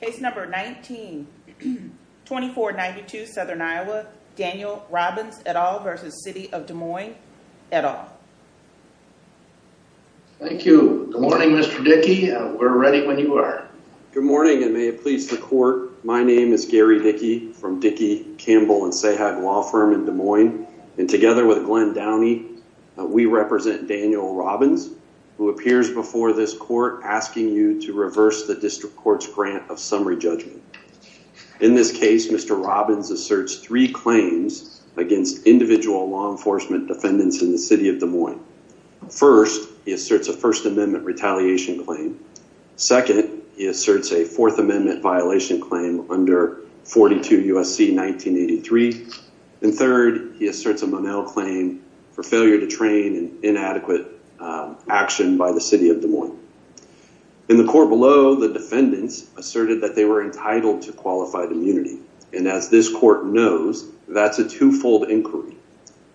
Case number 19, 2492 Southern Iowa, Daniel Robbins et al versus City of Des Moines et al. Thank you. Good morning Mr. Dickey. We're ready when you are. Good morning and may it please the court. My name is Gary Dickey from Dickey, Campbell and Sahag Law Firm in Des Moines and together with Glenn Downey we represent Daniel Robbins who appears before this court asking you to reverse the district court's grant of summary judgment. In this case Mr. Robbins asserts three claims against individual law enforcement defendants in the City of Des Moines. First, he asserts a First Amendment retaliation claim. Second, he asserts a Fourth Amendment violation claim under 42 U.S.C. 1983. And third, he asserts a Monell claim for failure to train inadequate action by the City of Des Moines. In the court below the defendants asserted that they were entitled to qualified immunity and as this court knows that's a two-fold inquiry.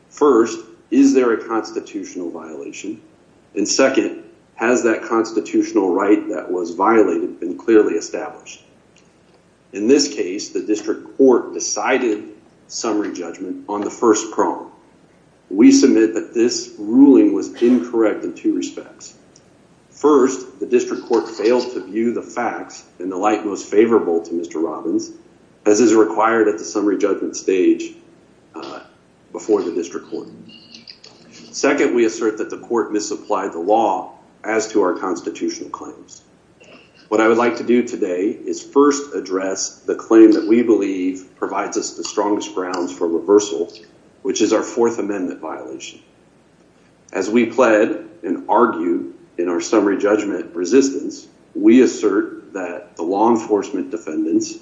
First, is there a constitutional violation? And second, has that constitutional right that was violated been clearly established? In this case the district court decided summary judgment on the first prong. We submit that this ruling was incorrect in two respects. First, the district court failed to view the facts in the light most favorable to Mr. Robbins as is required at the summary judgment stage before the district court. Second, we assert that the court misapplied the law as to our constitutional claims. What I would like to do today is first address the claim that we believe provides us the strongest grounds for reversal which is our Fourth Amendment violation. As we pled and argued in our summary judgment resistance, we assert that the law enforcement defendants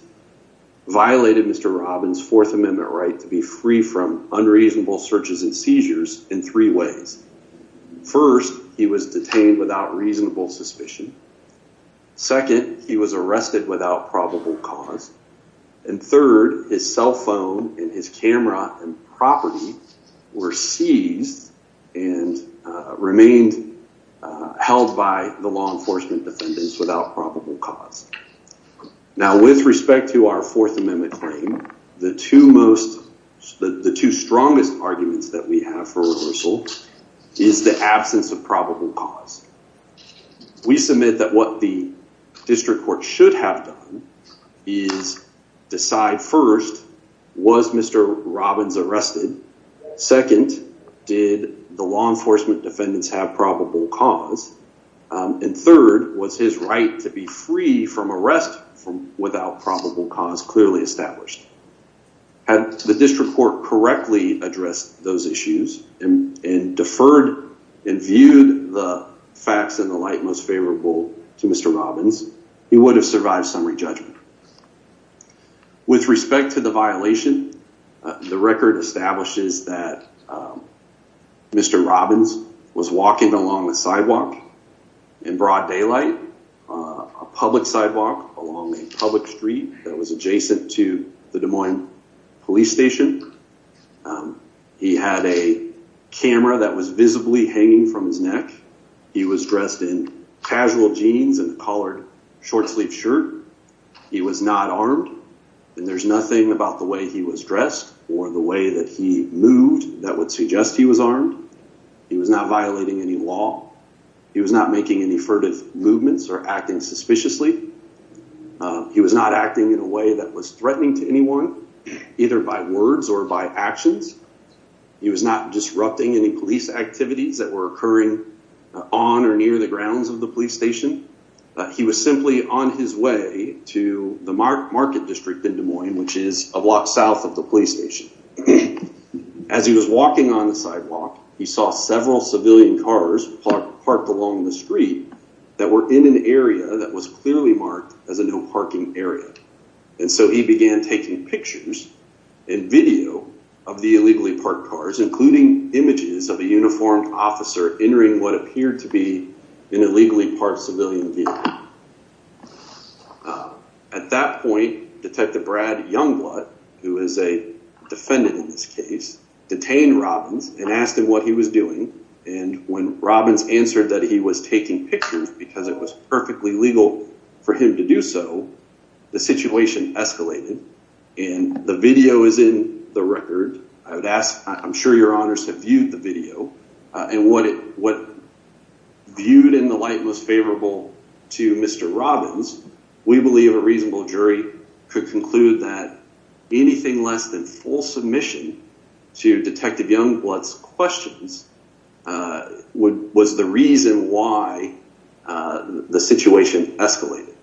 violated Mr. Robbins' Fourth Amendment right to be free from unreasonable searches and seizures in three ways. First, he was detained without reasonable suspicion. Second, he was detained without reasonable suspicion. And third, his cell phone and his camera and property were seized and remained held by the law enforcement defendants without probable cause. Now with respect to our Fourth Amendment claim, the two most the two strongest arguments that we have for reversal is the absence of probable cause. We submit that what the district court should have done is decide first, was Mr. Robbins arrested? Second, did the law enforcement defendants have probable cause? And third, was his right to be free from arrest without probable cause clearly established? Had the district court correctly addressed those issues and deferred and viewed the facts in the light most favorable to Mr. Robbins, he would have survived summary judgment. With respect to the violation, the record establishes that Mr. Robbins was walking along a sidewalk in broad daylight, a public sidewalk along a public street that was adjacent to the Des Moines police station. He had a camera that was visibly hanging from his neck. He was dressed in casual jeans and a collared short-sleeved shirt. He was not armed, and there's nothing about the way he was dressed or the way that he moved that would suggest he was armed. He was not violating any law. He was not making any furtive movements or acting suspiciously. He was not acting in a way that was threatening to anyone, either by words or by actions. He was not disrupting any police activities that were occurring on or near the grounds of the police station. He was simply on his way to the market district in Des Moines, which is a block south of the police station. As he was walking on the sidewalk, he saw several civilian cars parked along the street that were in an area that was clearly marked as a no parking area, and so he began taking pictures and video of the illegally parked cars, including images of a uniformed officer entering what appeared to be an illegally parked civilian vehicle. At that point, Detective Brad Youngblood, who is a defendant in this case, detained Robbins and asked him what he was doing, and when Robbins answered that he was taking pictures because it was perfectly legal for him to do so, the situation escalated, and the video is in the record. I would ask, I'm sure your honors have viewed the video, and what viewed in the light most favorable to Mr. Robbins, we believe a reasonable jury could conclude that anything less than full submission to Detective Youngblood's questions was the reason why the situation escalated.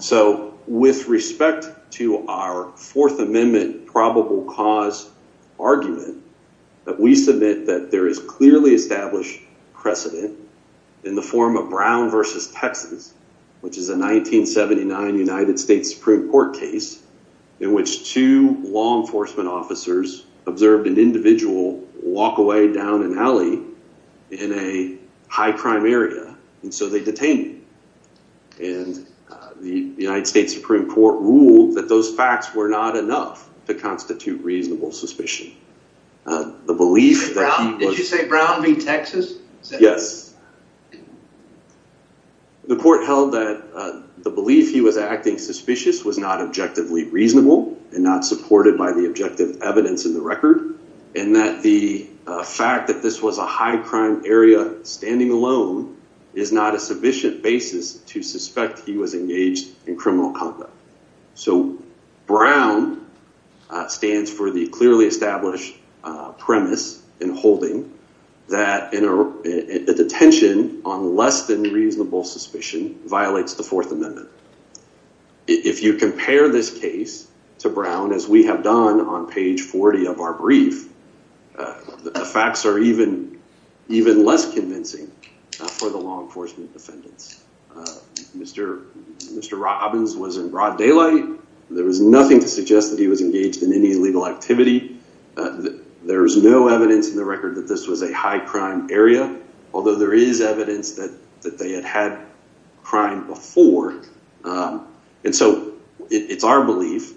So with respect to our Fourth Amendment probable cause argument that we submit that there is a 1979 United States Supreme Court case in which two law enforcement officers observed an individual walk away down an alley in a high crime area, and so they detained him, and the United States Supreme Court ruled that those facts were not enough to constitute reasonable suspicion. The belief that he was... Did you say Brown v. Texas? Yes. The court held that the belief he was acting suspicious was not objectively reasonable and not supported by the objective evidence in the record, and that the fact that this was a high crime area standing alone is not a sufficient basis to suspect he was engaged in criminal conduct. So Brown stands for the clearly established premise in holding that in a detective's on less than reasonable suspicion violates the Fourth Amendment. If you compare this case to Brown, as we have done on page 40 of our brief, facts are even less convincing for the law enforcement defendants. Mr. Robbins was in broad daylight. There was nothing to suggest that he was engaged in any legal activity. There is no evidence in the record that this was a high crime area, although there is evidence that they had had crime before, and so it's our belief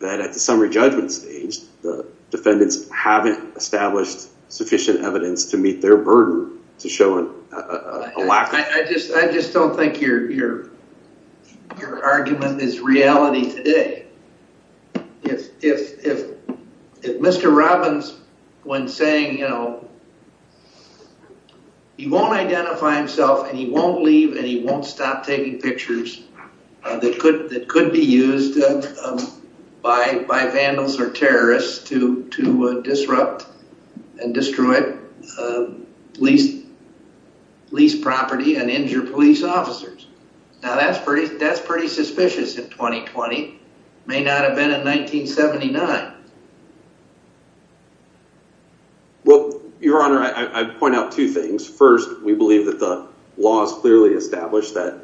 that at the summary judgment stage, the defendants haven't established sufficient evidence to meet their burden to show a lack of... I just don't think your argument is reality today. If Mr. Robbins, when saying he won't identify himself and he won't leave and he won't stop taking pictures that could be used by vandals or terrorists to disrupt and destroy a leased property and injure police officers. Now that's pretty suspicious in 2020. May not have been in 1979. Well, your honor, I point out two things. First, we believe that the law is clearly established that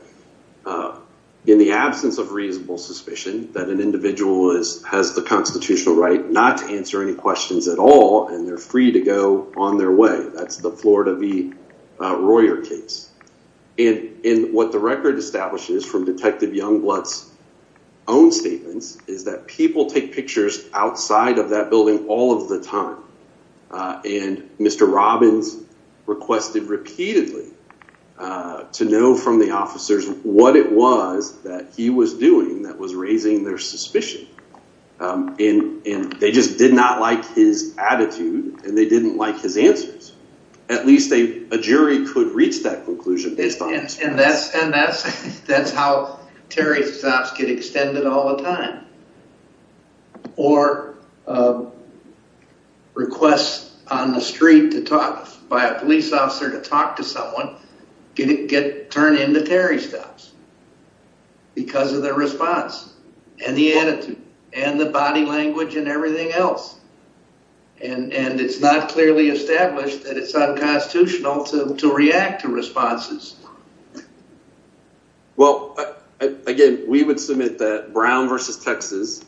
in the absence of reasonable suspicion that an individual has the constitutional right not to answer any questions at all and they're free to go on their way. That's the Florida v. Royer case. And what the record establishes from Detective Youngblood's own statements is that people take pictures outside of that building all of the time. And Mr. Robbins requested repeatedly to know from the officers what it was that he was doing that was raising their suspicion. And they just did not like his attitude and they didn't like his answers. At least a jury could reach that conclusion based on... And that's how Terry stops get extended all the time. Or requests on the street to talk by a police officer to talk to someone get turned into Terry stops because of their response and the attitude and the body language and everything else. And it's not clearly established that it's unconstitutional to react to responses. Well, again, we would submit that Brown v. Texas...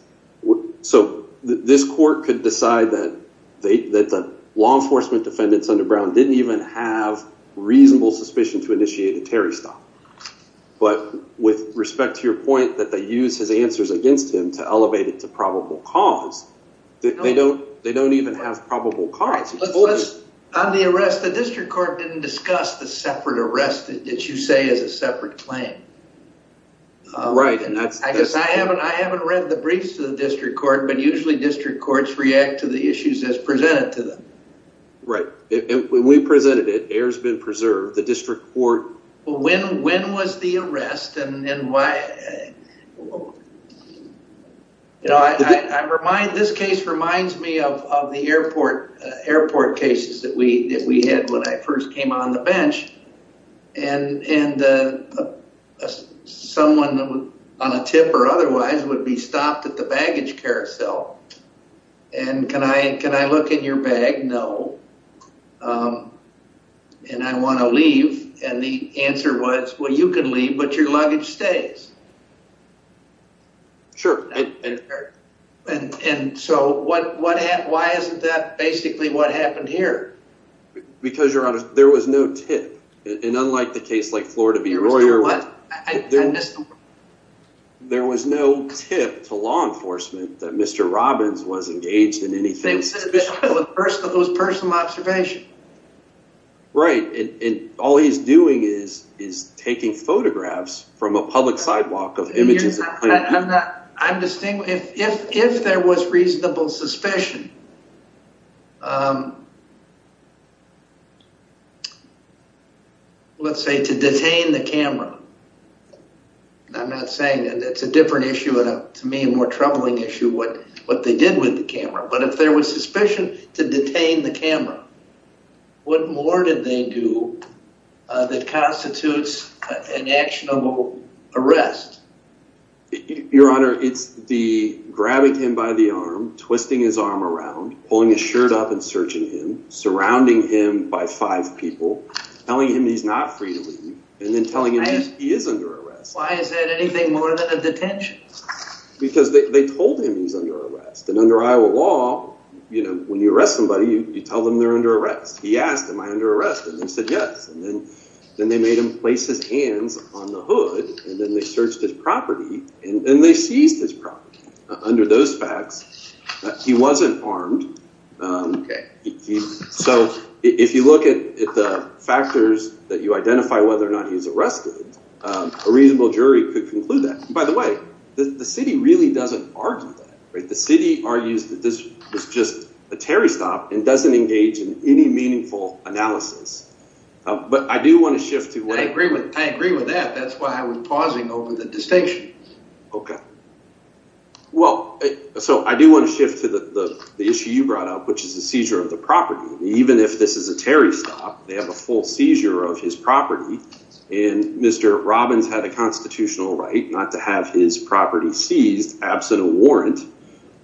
reasonable suspicion to initiate a Terry stop. But with respect to your point that they use his answers against him to elevate it to probable cause, they don't even have probable cause. On the arrest, the district court didn't discuss the separate arrest that you say is a separate claim. Right. And I guess I haven't read the briefs to the district court, but usually district courts react to the issues as presented to them. Right. When we presented it, errors have been preserved. The district court... Well, when was the arrest and why... This case reminds me of the airport cases that we had when I first came on the bench. And someone on a tip or otherwise would be stopped at the baggage carousel and can I look in your bag? No. And I want to leave. And the answer was, well, you can leave, but your luggage stays. Sure. And so why isn't that basically what happened here? Because there was no tip. And unlike the case like Florida v. Royer... I missed the word. There was no tip to law enforcement that Mr. Robbins was engaged in anything... It was personal observation. Right. And all he's doing is taking photographs from a public sidewalk of images... If there was reasonable suspicion, let's say to detain the camera. And I'm not saying... It's a different issue, to me, a more troubling issue, what they did with the camera. But if there was suspicion to detain the camera, what more did they do that constitutes an actionable arrest? Your Honor, it's the other way around. Pulling his shirt up and searching him, surrounding him by five people, telling him he's not free to leave, and then telling him he is under arrest. Why is that anything more than a detention? Because they told him he's under arrest. And under Iowa law, when you arrest somebody, you tell them they're under arrest. He asked, am I under arrest? And they said, yes. And then they made him place his hands on the hood, and then they searched his property, and then they seized his property. Under those facts, he wasn't armed. Okay. So if you look at the factors that you identify whether or not he's arrested, a reasonable jury could conclude that. By the way, the city really doesn't argue that. The city argues that this was just a Terry stop and doesn't engage in any meaningful analysis. But I do want to shift to... I agree with that. That's why I was pausing over the distinction. Okay. Well, so I do want to shift to the issue you brought up, which is the seizure of the property. Even if this is a Terry stop, they have a full seizure of his property. And Mr. Robbins had a constitutional right not to have his property seized absent a warrant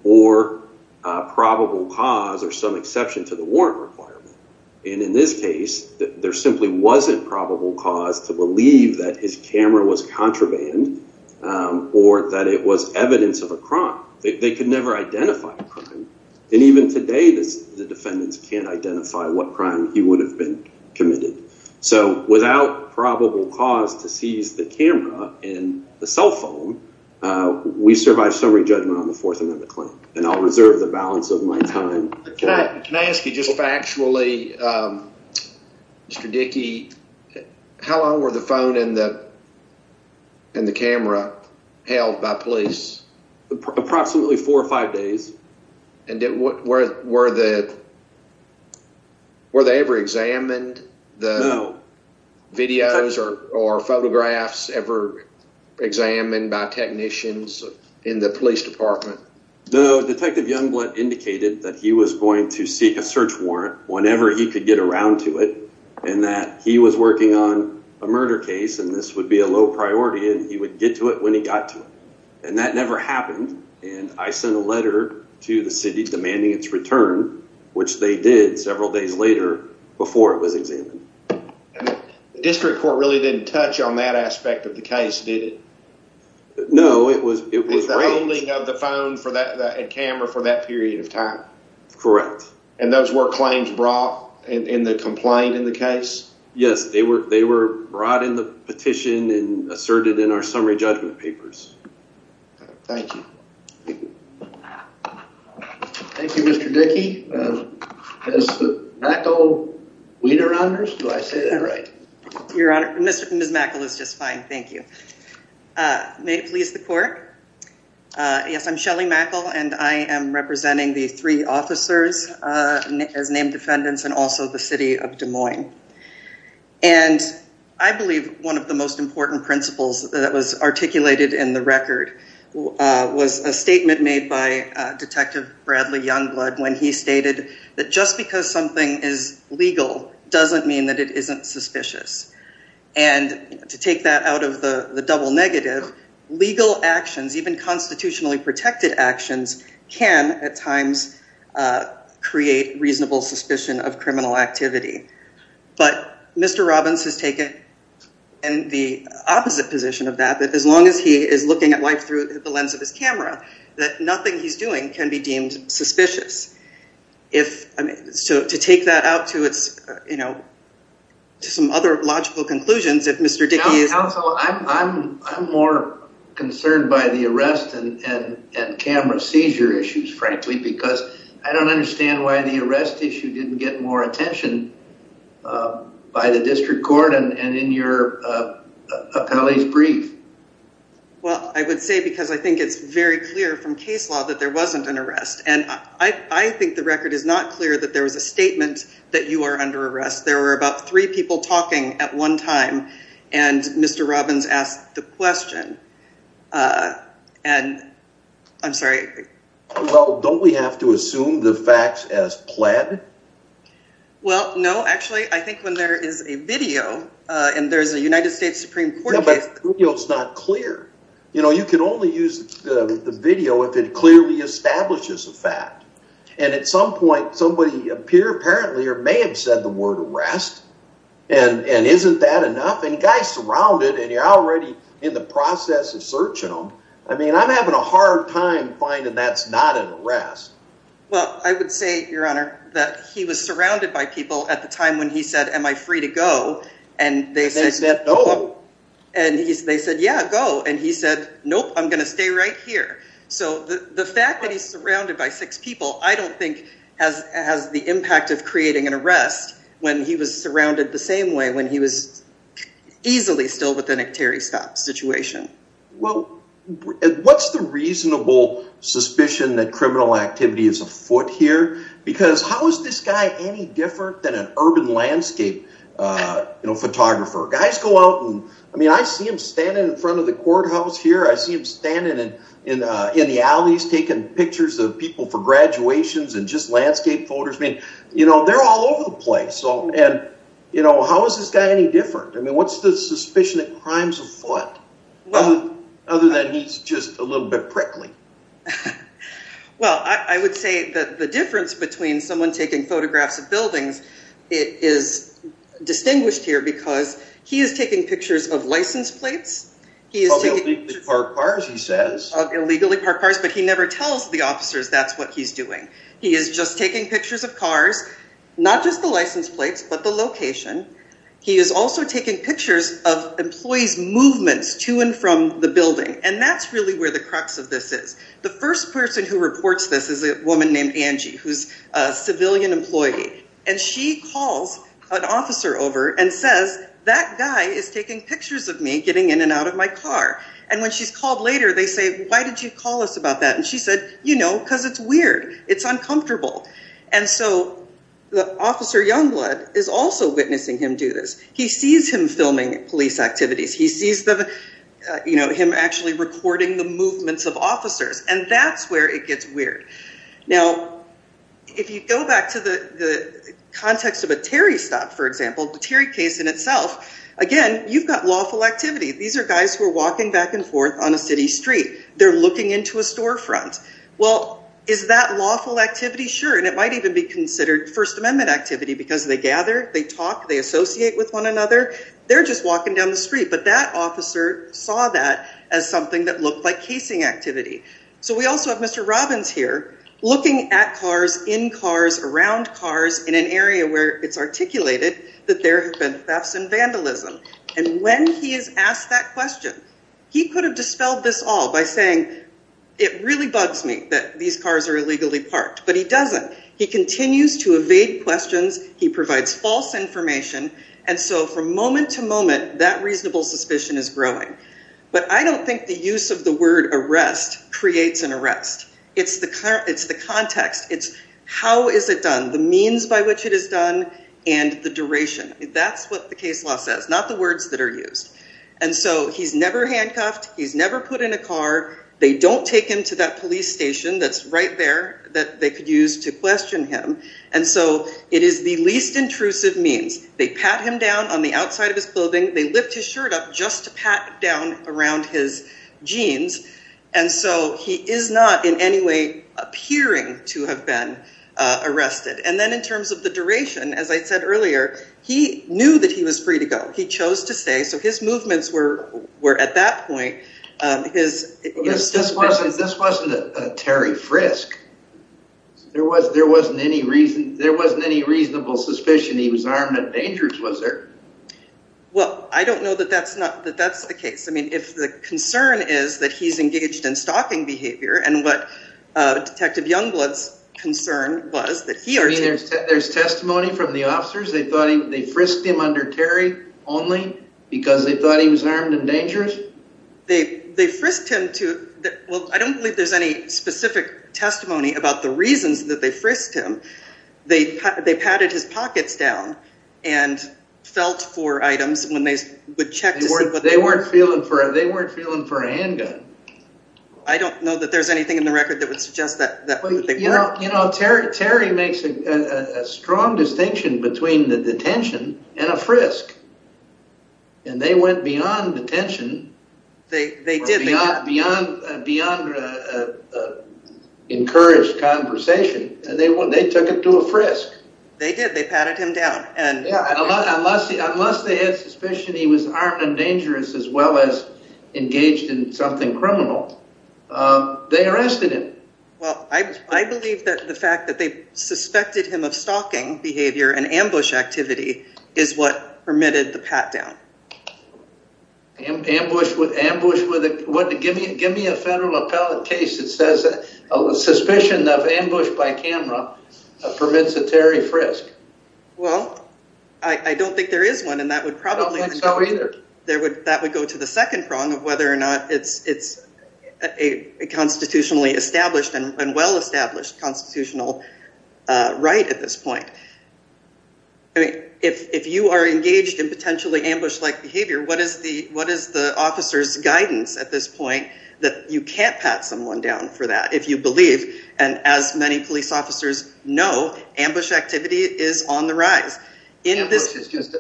or probable cause or some exception to the warrant requirement. And in this case, there simply wasn't probable cause to believe that his camera was contraband or that it was evidence of a crime. They could never identify a crime. And even today, the defendants can't identify what crime he would have been committed. So without probable cause to seize the camera and the cell phone, we survive summary judgment on the Fourth Amendment claim. And I'll reserve the balance of my time. Can I ask you just factually, Mr. Dickey, how long were the phone and the camera held by police? Approximately four or five days. And were they ever examined the videos or photographs ever examined by technicians in the police department? No. Detective Youngblood indicated that he was going to seek a search warrant whenever he could get around to it and that he was working on a murder case and this would be a low priority and he would get to it when he got to it. And that never happened. And I sent a letter to the city demanding its return, which they did several days later before it was examined. The district court really didn't touch on that aspect of the case, did it? No. It was the holding of the phone and camera for that period of time. Correct. And those were claims brought in the complaint in the case? Yes. They were brought in the petition and asserted in our summary judgment papers. Thank you. Thank you, Mr. Dickey. Does Ms. Mackle, do I say that right? Your Honor, Ms. Mackle is just fine. Thank you. May it please the court. Yes, I'm Shelly Mackle and I am representing the three officers as named defendants and also the city of Des Moines. And I believe one of the most important principles that was articulated in the record was a statement made by Detective Bradley Youngblood when he stated that just because something is legal doesn't mean that it isn't suspicious. And to take that out of the double negative, legal actions, even constitutionally protected actions, can at times create reasonable suspicion of criminal activity. But Mr. Robbins has taken in the opposite position of that, that as long as he is looking at life through the lens of his camera, that nothing he's doing can be deemed suspicious. If I mean, so to take that out to it's, you know, to some other logical conclusions, if Mr. Dickey is... Counsel, I'm more concerned by the arrest and camera seizure issues, frankly, because I don't understand why the arrest issue didn't get more attention by the district court and in your appellee's brief. Well, I would say because I think it's very clear from case law that there wasn't an arrest. And I think the record is not clear that there was a statement that you are under arrest. There were about three people talking at one time. And Mr. Robbins asked the question. And I'm sorry. Well, don't we have to assume the facts as plaid? Well, no, actually, I think when there is a video and there's a United States Supreme Court case, it's not clear. You know, you can only use the video if it clearly establishes the fact. And at some point, somebody appear apparently or may have said the word arrest. And isn't that enough? And guys surrounded and you're already in the process of searching them. I mean, I'm having a hard time finding that's not an arrest. Well, I would say, Your Honor, that he was surrounded by people at the time when he said, am I free to go? And they said no. And they said, yeah, go. And he said, nope, I'm going to stay right here. So the fact that he's surrounded by six people, I don't think has the impact of creating an arrest when he was surrounded the same way when he was easily still within a Terry stop situation. Well, what's the reasonable suspicion that criminal activity is afoot here? Because how is this guy any different than an urban landscape photographer? Guys go out and I mean, I see him standing in front of the courthouse here. I see him standing in the alleys, taking pictures of people for graduations and just landscape photos. I mean, you know, they're all over the place. So and, you know, how is this guy any different? I mean, what's the suspicion of crimes afoot? Well, other than he's just a little bit prickly. Well, I would say that the difference between someone taking photographs of buildings is distinguished here because he is taking pictures of license plates. He is illegally parked cars, he says, illegally parked cars, but he never tells the officers that's what he's doing. He is just taking pictures of cars, not just the license plates, but the location. He is also taking pictures of employees movements to and from the building. And that's really where the crux of this is. The first person who reports this is a woman named Angie, who's a civilian employee. And she calls an officer over and says, that guy is taking pictures of me getting in and out of my car. And when she's called later, they say, why did you call us about that? And she said, you know, because it's weird, it's uncomfortable. And so the officer Youngblood is also witnessing him do this. He sees him filming police activities, he sees them, you know, him actually recording the movements of officers. And that's where it gets weird. Now, if you go back to the context of a Terry stop, for example, the Terry case in itself, again, you've got lawful activity. These are guys who are walking back and forth on a city street. They're looking into a storefront. Well, is that lawful activity? Sure. And it might even be considered First Amendment activity because they gather, they talk, they associate with one another. They're just walking down the street. But that officer saw that as So we also have Mr. Robbins here looking at cars, in cars, around cars in an area where it's articulated that there have been thefts and vandalism. And when he is asked that question, he could have dispelled this all by saying, it really bugs me that these cars are illegally parked. But he doesn't. He continues to evade questions. He provides false information. And so from moment to moment, that reasonable suspicion is growing. But I don't think the use of the word arrest creates an arrest. It's the context. It's how is it done, the means by which it is done, and the duration. That's what the case law says, not the words that are used. And so he's never handcuffed. He's never put in a car. They don't take him to that police station that's right there that they could use to question him. And so it is the least intrusive means. They pat him down on the outside of his clothing. They lift his shirt up just to pat down around his jeans. And so he is not in any way appearing to have been arrested. And then in terms of the duration, as I said earlier, he knew that he was free to go. He chose to stay. So his movements were at that point. This wasn't a Terry Frisk. There wasn't any reason, there wasn't any reasonable suspicion he was armed and dangerous, was there? Well, I don't know that that's the case. I mean, if the concern is that he's engaged in stalking behavior and what Detective Youngblood's concern was that he... I mean, there's testimony from the officers. They thought he, they frisked him under Terry only because they thought he was armed and dangerous? They frisked him to, well, I don't believe there's any specific testimony about the reasons that they frisked him. They patted his pockets down and felt for items when they would check to see... They weren't feeling for a handgun. I don't know that there's anything in the record that would suggest that. You know, Terry makes a strong distinction between the detention and a frisk. And they went beyond detention. They did. Beyond a encouraged conversation, they took him to a frisk. They did. They patted him down. And unless they had suspicion he was armed and dangerous as well as engaged in something criminal, they arrested him. Well, I believe that the fact that they suspected him of stalking behavior and ambush activity is what permitted the pat down. Ambush with a... What? Give me a federal appellate case that says a suspicion of ambush by camera permits a Terry frisk. Well, I don't think there is one and that would probably... I don't think so either. That would go to the second prong of whether or not it's a constitutionally established and well-established constitutional right at this point. I mean, if you are engaged in potentially that you can't pat someone down for that if you believe. And as many police officers know, ambush activity is on the rise. Ambush is just a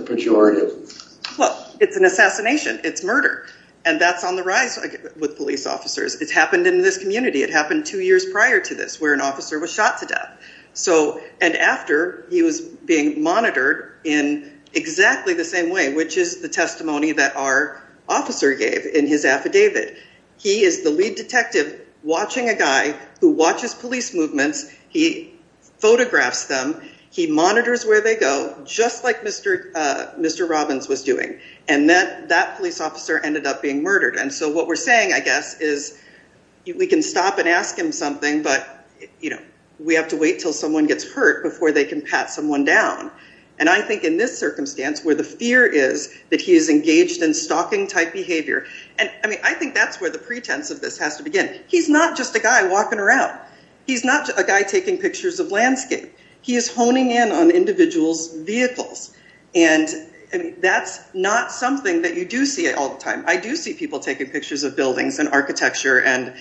pejorative. Well, it's an assassination. It's murder. And that's on the rise with police officers. It's happened in this community. It happened two years prior to this where an officer was shot to death. So, and after he was being monitored in exactly the same way, which is the testimony that our affidavit, he is the lead detective watching a guy who watches police movements. He photographs them. He monitors where they go, just like Mr. Robbins was doing. And then that police officer ended up being murdered. And so what we're saying, I guess, is we can stop and ask him something, but we have to wait till someone gets hurt before they can pat someone down. And I think in this I think that's where the pretense of this has to begin. He's not just a guy walking around. He's not a guy taking pictures of landscape. He is honing in on individuals' vehicles. And that's not something that you do see all the time. I do see people taking pictures of buildings and architecture. And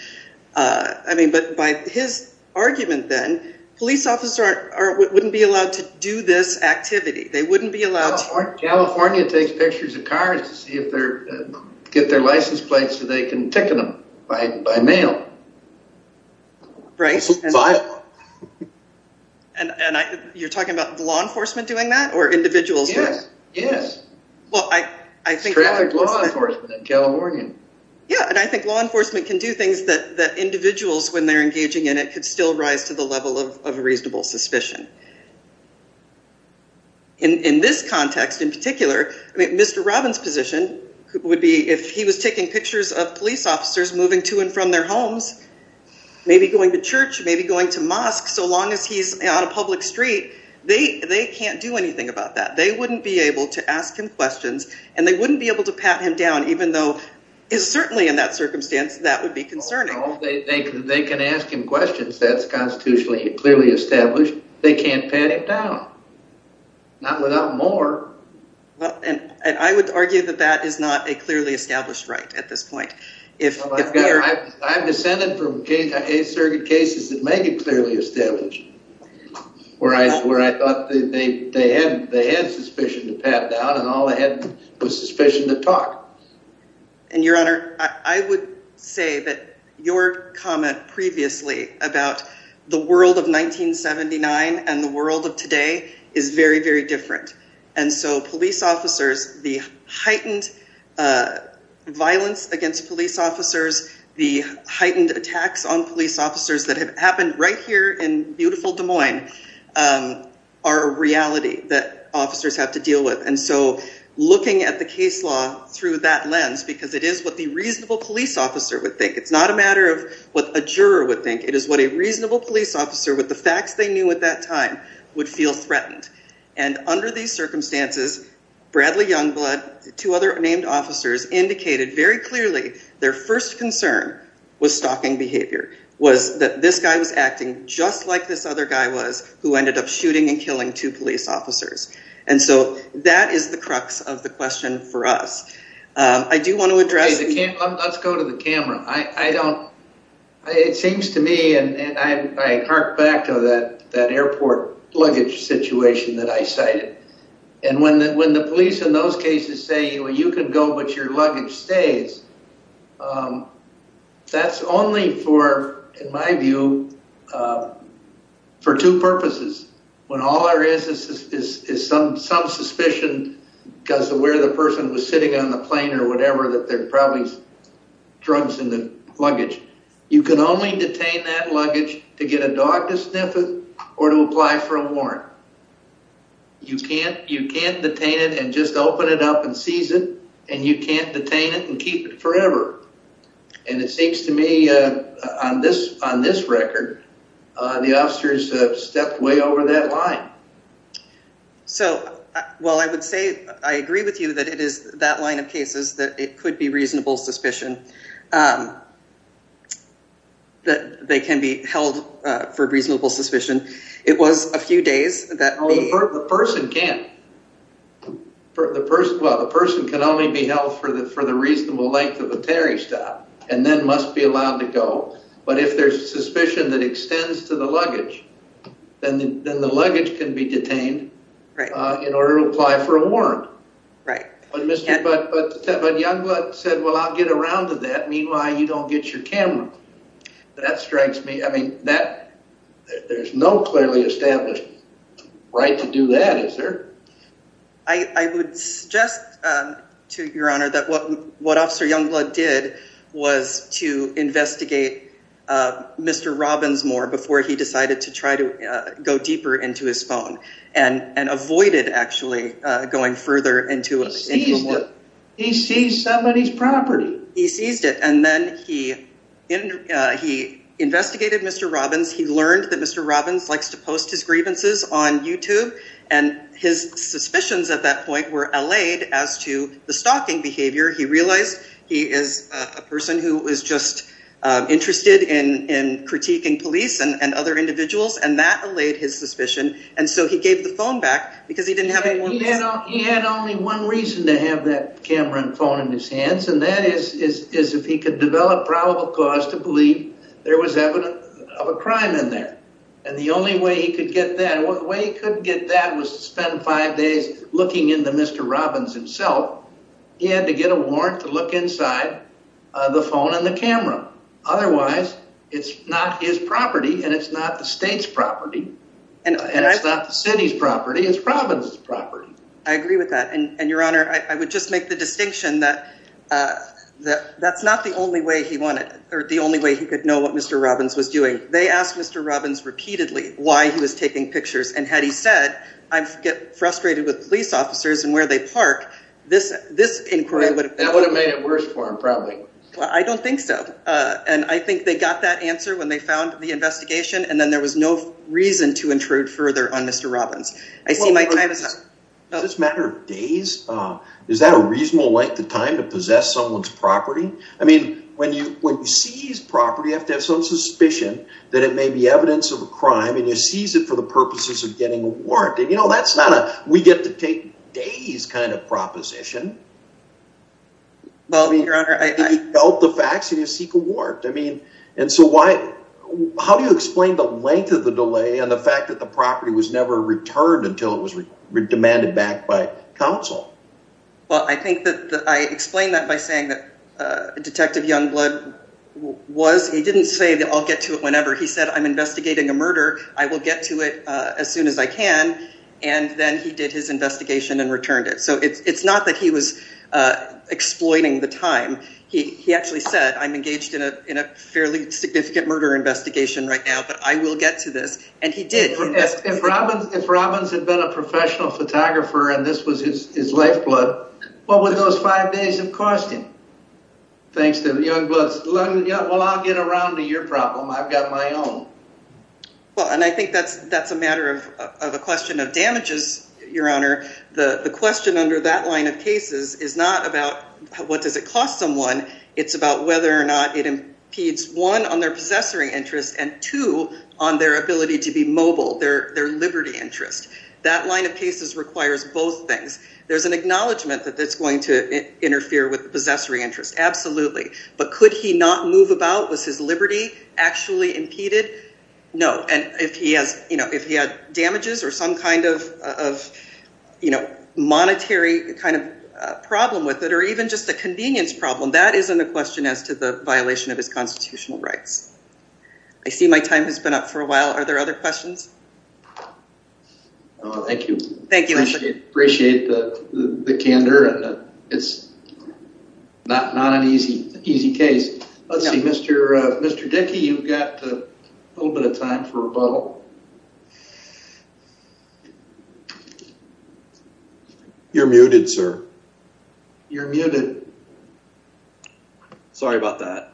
I mean, but by his argument then, police officers wouldn't be allowed to do this activity. They wouldn't be allowed to. California takes pictures of cars to see if get their license plates so they can ticket them by mail. Right. And you're talking about law enforcement doing that or individuals? Yes. Well, I think law enforcement in California. Yeah. And I think law enforcement can do things that the individuals, when they're engaging in, it could still rise to the level of reasonable suspicion. In this context, in particular, I mean, Mr. Robbins' position would be if he was taking pictures of police officers moving to and from their homes, maybe going to church, maybe going to mosque, so long as he's on a public street, they can't do anything about that. They wouldn't be able to ask him questions and they wouldn't be able to pat him down, even though it's certainly in that circumstance that would be concerning. They can ask him questions. That's constitutionally clearly established. They can't pat him down. Not without more. And I would argue that that is not a clearly established right at this point. Well, I'm descended from cases that may be clearly established where I thought they had suspicion to pat down and all they had was suspicion to talk. And your honor, I would say that your comment previously about the world of 1979 and the world of today is very, very different. And so police officers, the heightened violence against police officers, the heightened attacks on police officers that have happened right here in beautiful Des Looking at the case law through that lens, because it is what the reasonable police officer would think. It's not a matter of what a juror would think. It is what a reasonable police officer with the facts they knew at that time would feel threatened. And under these circumstances, Bradley Youngblood, two other named officers indicated very clearly their first concern was stalking behavior, was that this guy was acting just like this other guy was who ended up shooting and killing two police officers. And so that is the crux of the question for us. I do want to address... Let's go to the camera. It seems to me, and I hark back to that airport luggage situation that I cited. And when the police in those cases say, well, you can go, but your luggage stays, that's only for, in my view, for two purposes. When all there is is some suspicion because of where the person was sitting on the plane or whatever that there are probably drugs in the luggage. You can only detain that luggage to get a dog to sniff it or to apply for a warrant. You can't detain it and just open it up and seize it, and you can't detain it and keep it forever. And it seems to me on this record, the officers have stepped way over that line. So, well, I would say I agree with you that it is that line of cases that it could be reasonable suspicion. It was a few days that... The person can't. Well, the person can only be held for the reasonable length of a ferry stop and then must be allowed to go. But if there's suspicion that extends to the luggage, then the luggage can be detained in order to apply for a warrant. Right. But Youngblood said, well, I'll get around to that. Meanwhile, you don't get your camera. That strikes me. I mean, that there's no clearly established right to do that. Is there? I would suggest to your honor that what what Officer Youngblood did was to investigate Mr. Robbins more before he decided to try to go deeper into his phone and avoided actually going further into it. He seized somebody's property. He seized it. And then he investigated Mr. Robbins. He learned that Mr. Robbins likes to post his grievances on YouTube. And his suspicions at that point were allayed as to the stalking behavior. He realized he is a person who is just interested in critiquing police and other individuals. And that allayed his suspicion. And so he gave the phone back because he didn't have it. He had only one reason to have that camera and phone in his hands. And that is, is if he could develop probable cause to believe there was evidence of a crime in there. And the only way he could get that way he could get that was to spend five days looking into Mr. Robbins himself. He had to get a warrant to look inside the phone and the camera. Otherwise, it's not his property and it's not the state's property. And it's not the city's property. It's Robbins' property. I agree with that. And your honor, I would just make the distinction that that's not the only way he wanted or the only way he could know what Mr. Robbins was doing. They asked Mr. Robbins repeatedly why he was taking pictures. And had he said, I get frustrated with police officers and where they park. This inquiry would have made it worse for him probably. Well, I don't think so. And I think they got that answer when they found the investigation and then there was no reason to intrude further on Mr. Robbins. I see my time is up. Does this matter days? Is that a reasonable length of time to possess someone's property? I mean, when you, when you seize property, you have to have some suspicion that it may be evidence of a crime and you seize it for the purposes of getting a warrant. And, you know, that's not a, we get to take days kind of proposition. Well, your honor, I felt the facts and you seek a warrant. I mean, and so why, how do you explain the length of the delay and the fact that the property was never returned until it was demanded back by counsel? Well, I think that I explained that by saying that Detective Youngblood was, he didn't say that I'll get to it whenever he said, I'm investigating a murder. I will get to it as soon as I can. And then he did his investigation and returned it. So it's not that he was exploiting the time. He actually said, I'm engaged in a fairly significant murder investigation right now, but I will get to this. And he did. If Robbins had been a professional photographer and this was his lifeblood, what would those five days have cost him? Thanks to Youngblood. Well, I'll get around to your problem. I've got my own. Well, and I think that's a matter of a question of damages, your honor. The question under that line of cases is not about what does it cost someone? It's about whether or not it impedes, one, on their possessory interest and two, on their ability to be mobile, their liberty interest. That line of cases requires both things. There's an acknowledgement that that's going to interfere with the possessory interest. Absolutely. But could he not move about? Was his liberty actually impeded? No. And if he has, you know, if he had damages or some kind of, you know, monetary kind of problem with it, or even just a convenience problem, that isn't a question as to the violation of his constitutional rights. I see my time has been up for a while. Are there other questions? Thank you. Appreciate the candor. It's not an easy case. Let's see. Mr. Dick, you've got a little bit of time for rebuttal. You're muted, sir. You're muted. Sorry about that.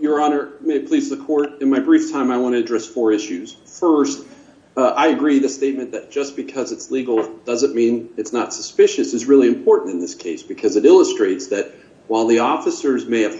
Your honor, may it please the court. In my brief time, I want to address four issues. First, I agree the statement that just because it's legal doesn't mean it's not suspicious is really important in this case because it illustrates that while the officers may have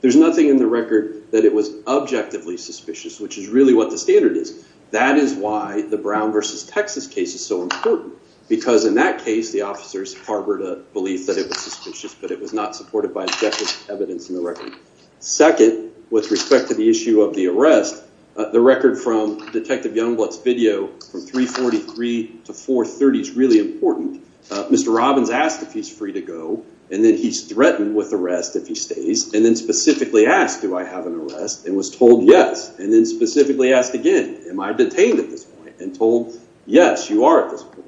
there's nothing in the record that it was objectively suspicious, which is really what the standard is. That is why the Brown versus Texas case is so important, because in that case, the officers harbored a belief that it was suspicious, but it was not supported by objective evidence in the record. Second, with respect to the issue of the arrest, the record from Detective Youngblood's video from 343 to 430 is really important. Mr. Robbins asked if he's free to go, and then he's threatened with arrest if he stays, and then specifically asked, do I have an arrest, and was told yes, and then specifically asked again, am I detained at this point, and told, yes, you are at this point.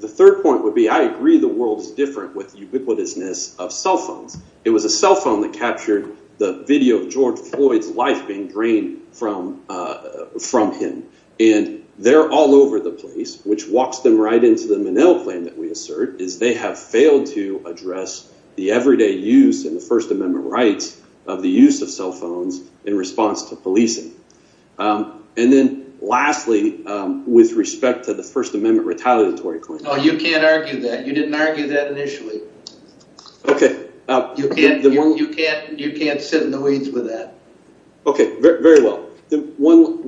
The third point would be I agree the world is different with ubiquitousness of cell phones. It was a cell phone that captured the video of George Floyd's life being drained from him, and they're all over the place, which walks them right into the Minnell claim that we assert, is they have failed to address the everyday use in the First Amendment rights of the use of cell phones in response to policing. And then lastly, with respect to the First Amendment retaliatory claim. No, you can't argue that. You didn't argue that initially. Okay. You can't sit in the weeds with that. Okay. Very well.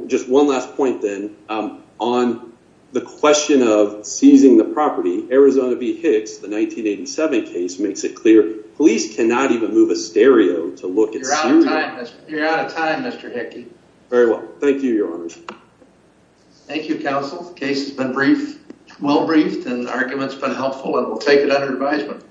Just one last point, then, on the question of seizing the property. Arizona v. Hicks, the 1987 case, makes it clear police cannot even move a stereo to look at serial. You're out of time, Mr. Hickey. Very well. Thank you, Your Honors. Thank you, counsel. The case has been brief, well briefed, and the argument's been helpful, and we'll take it under advisement.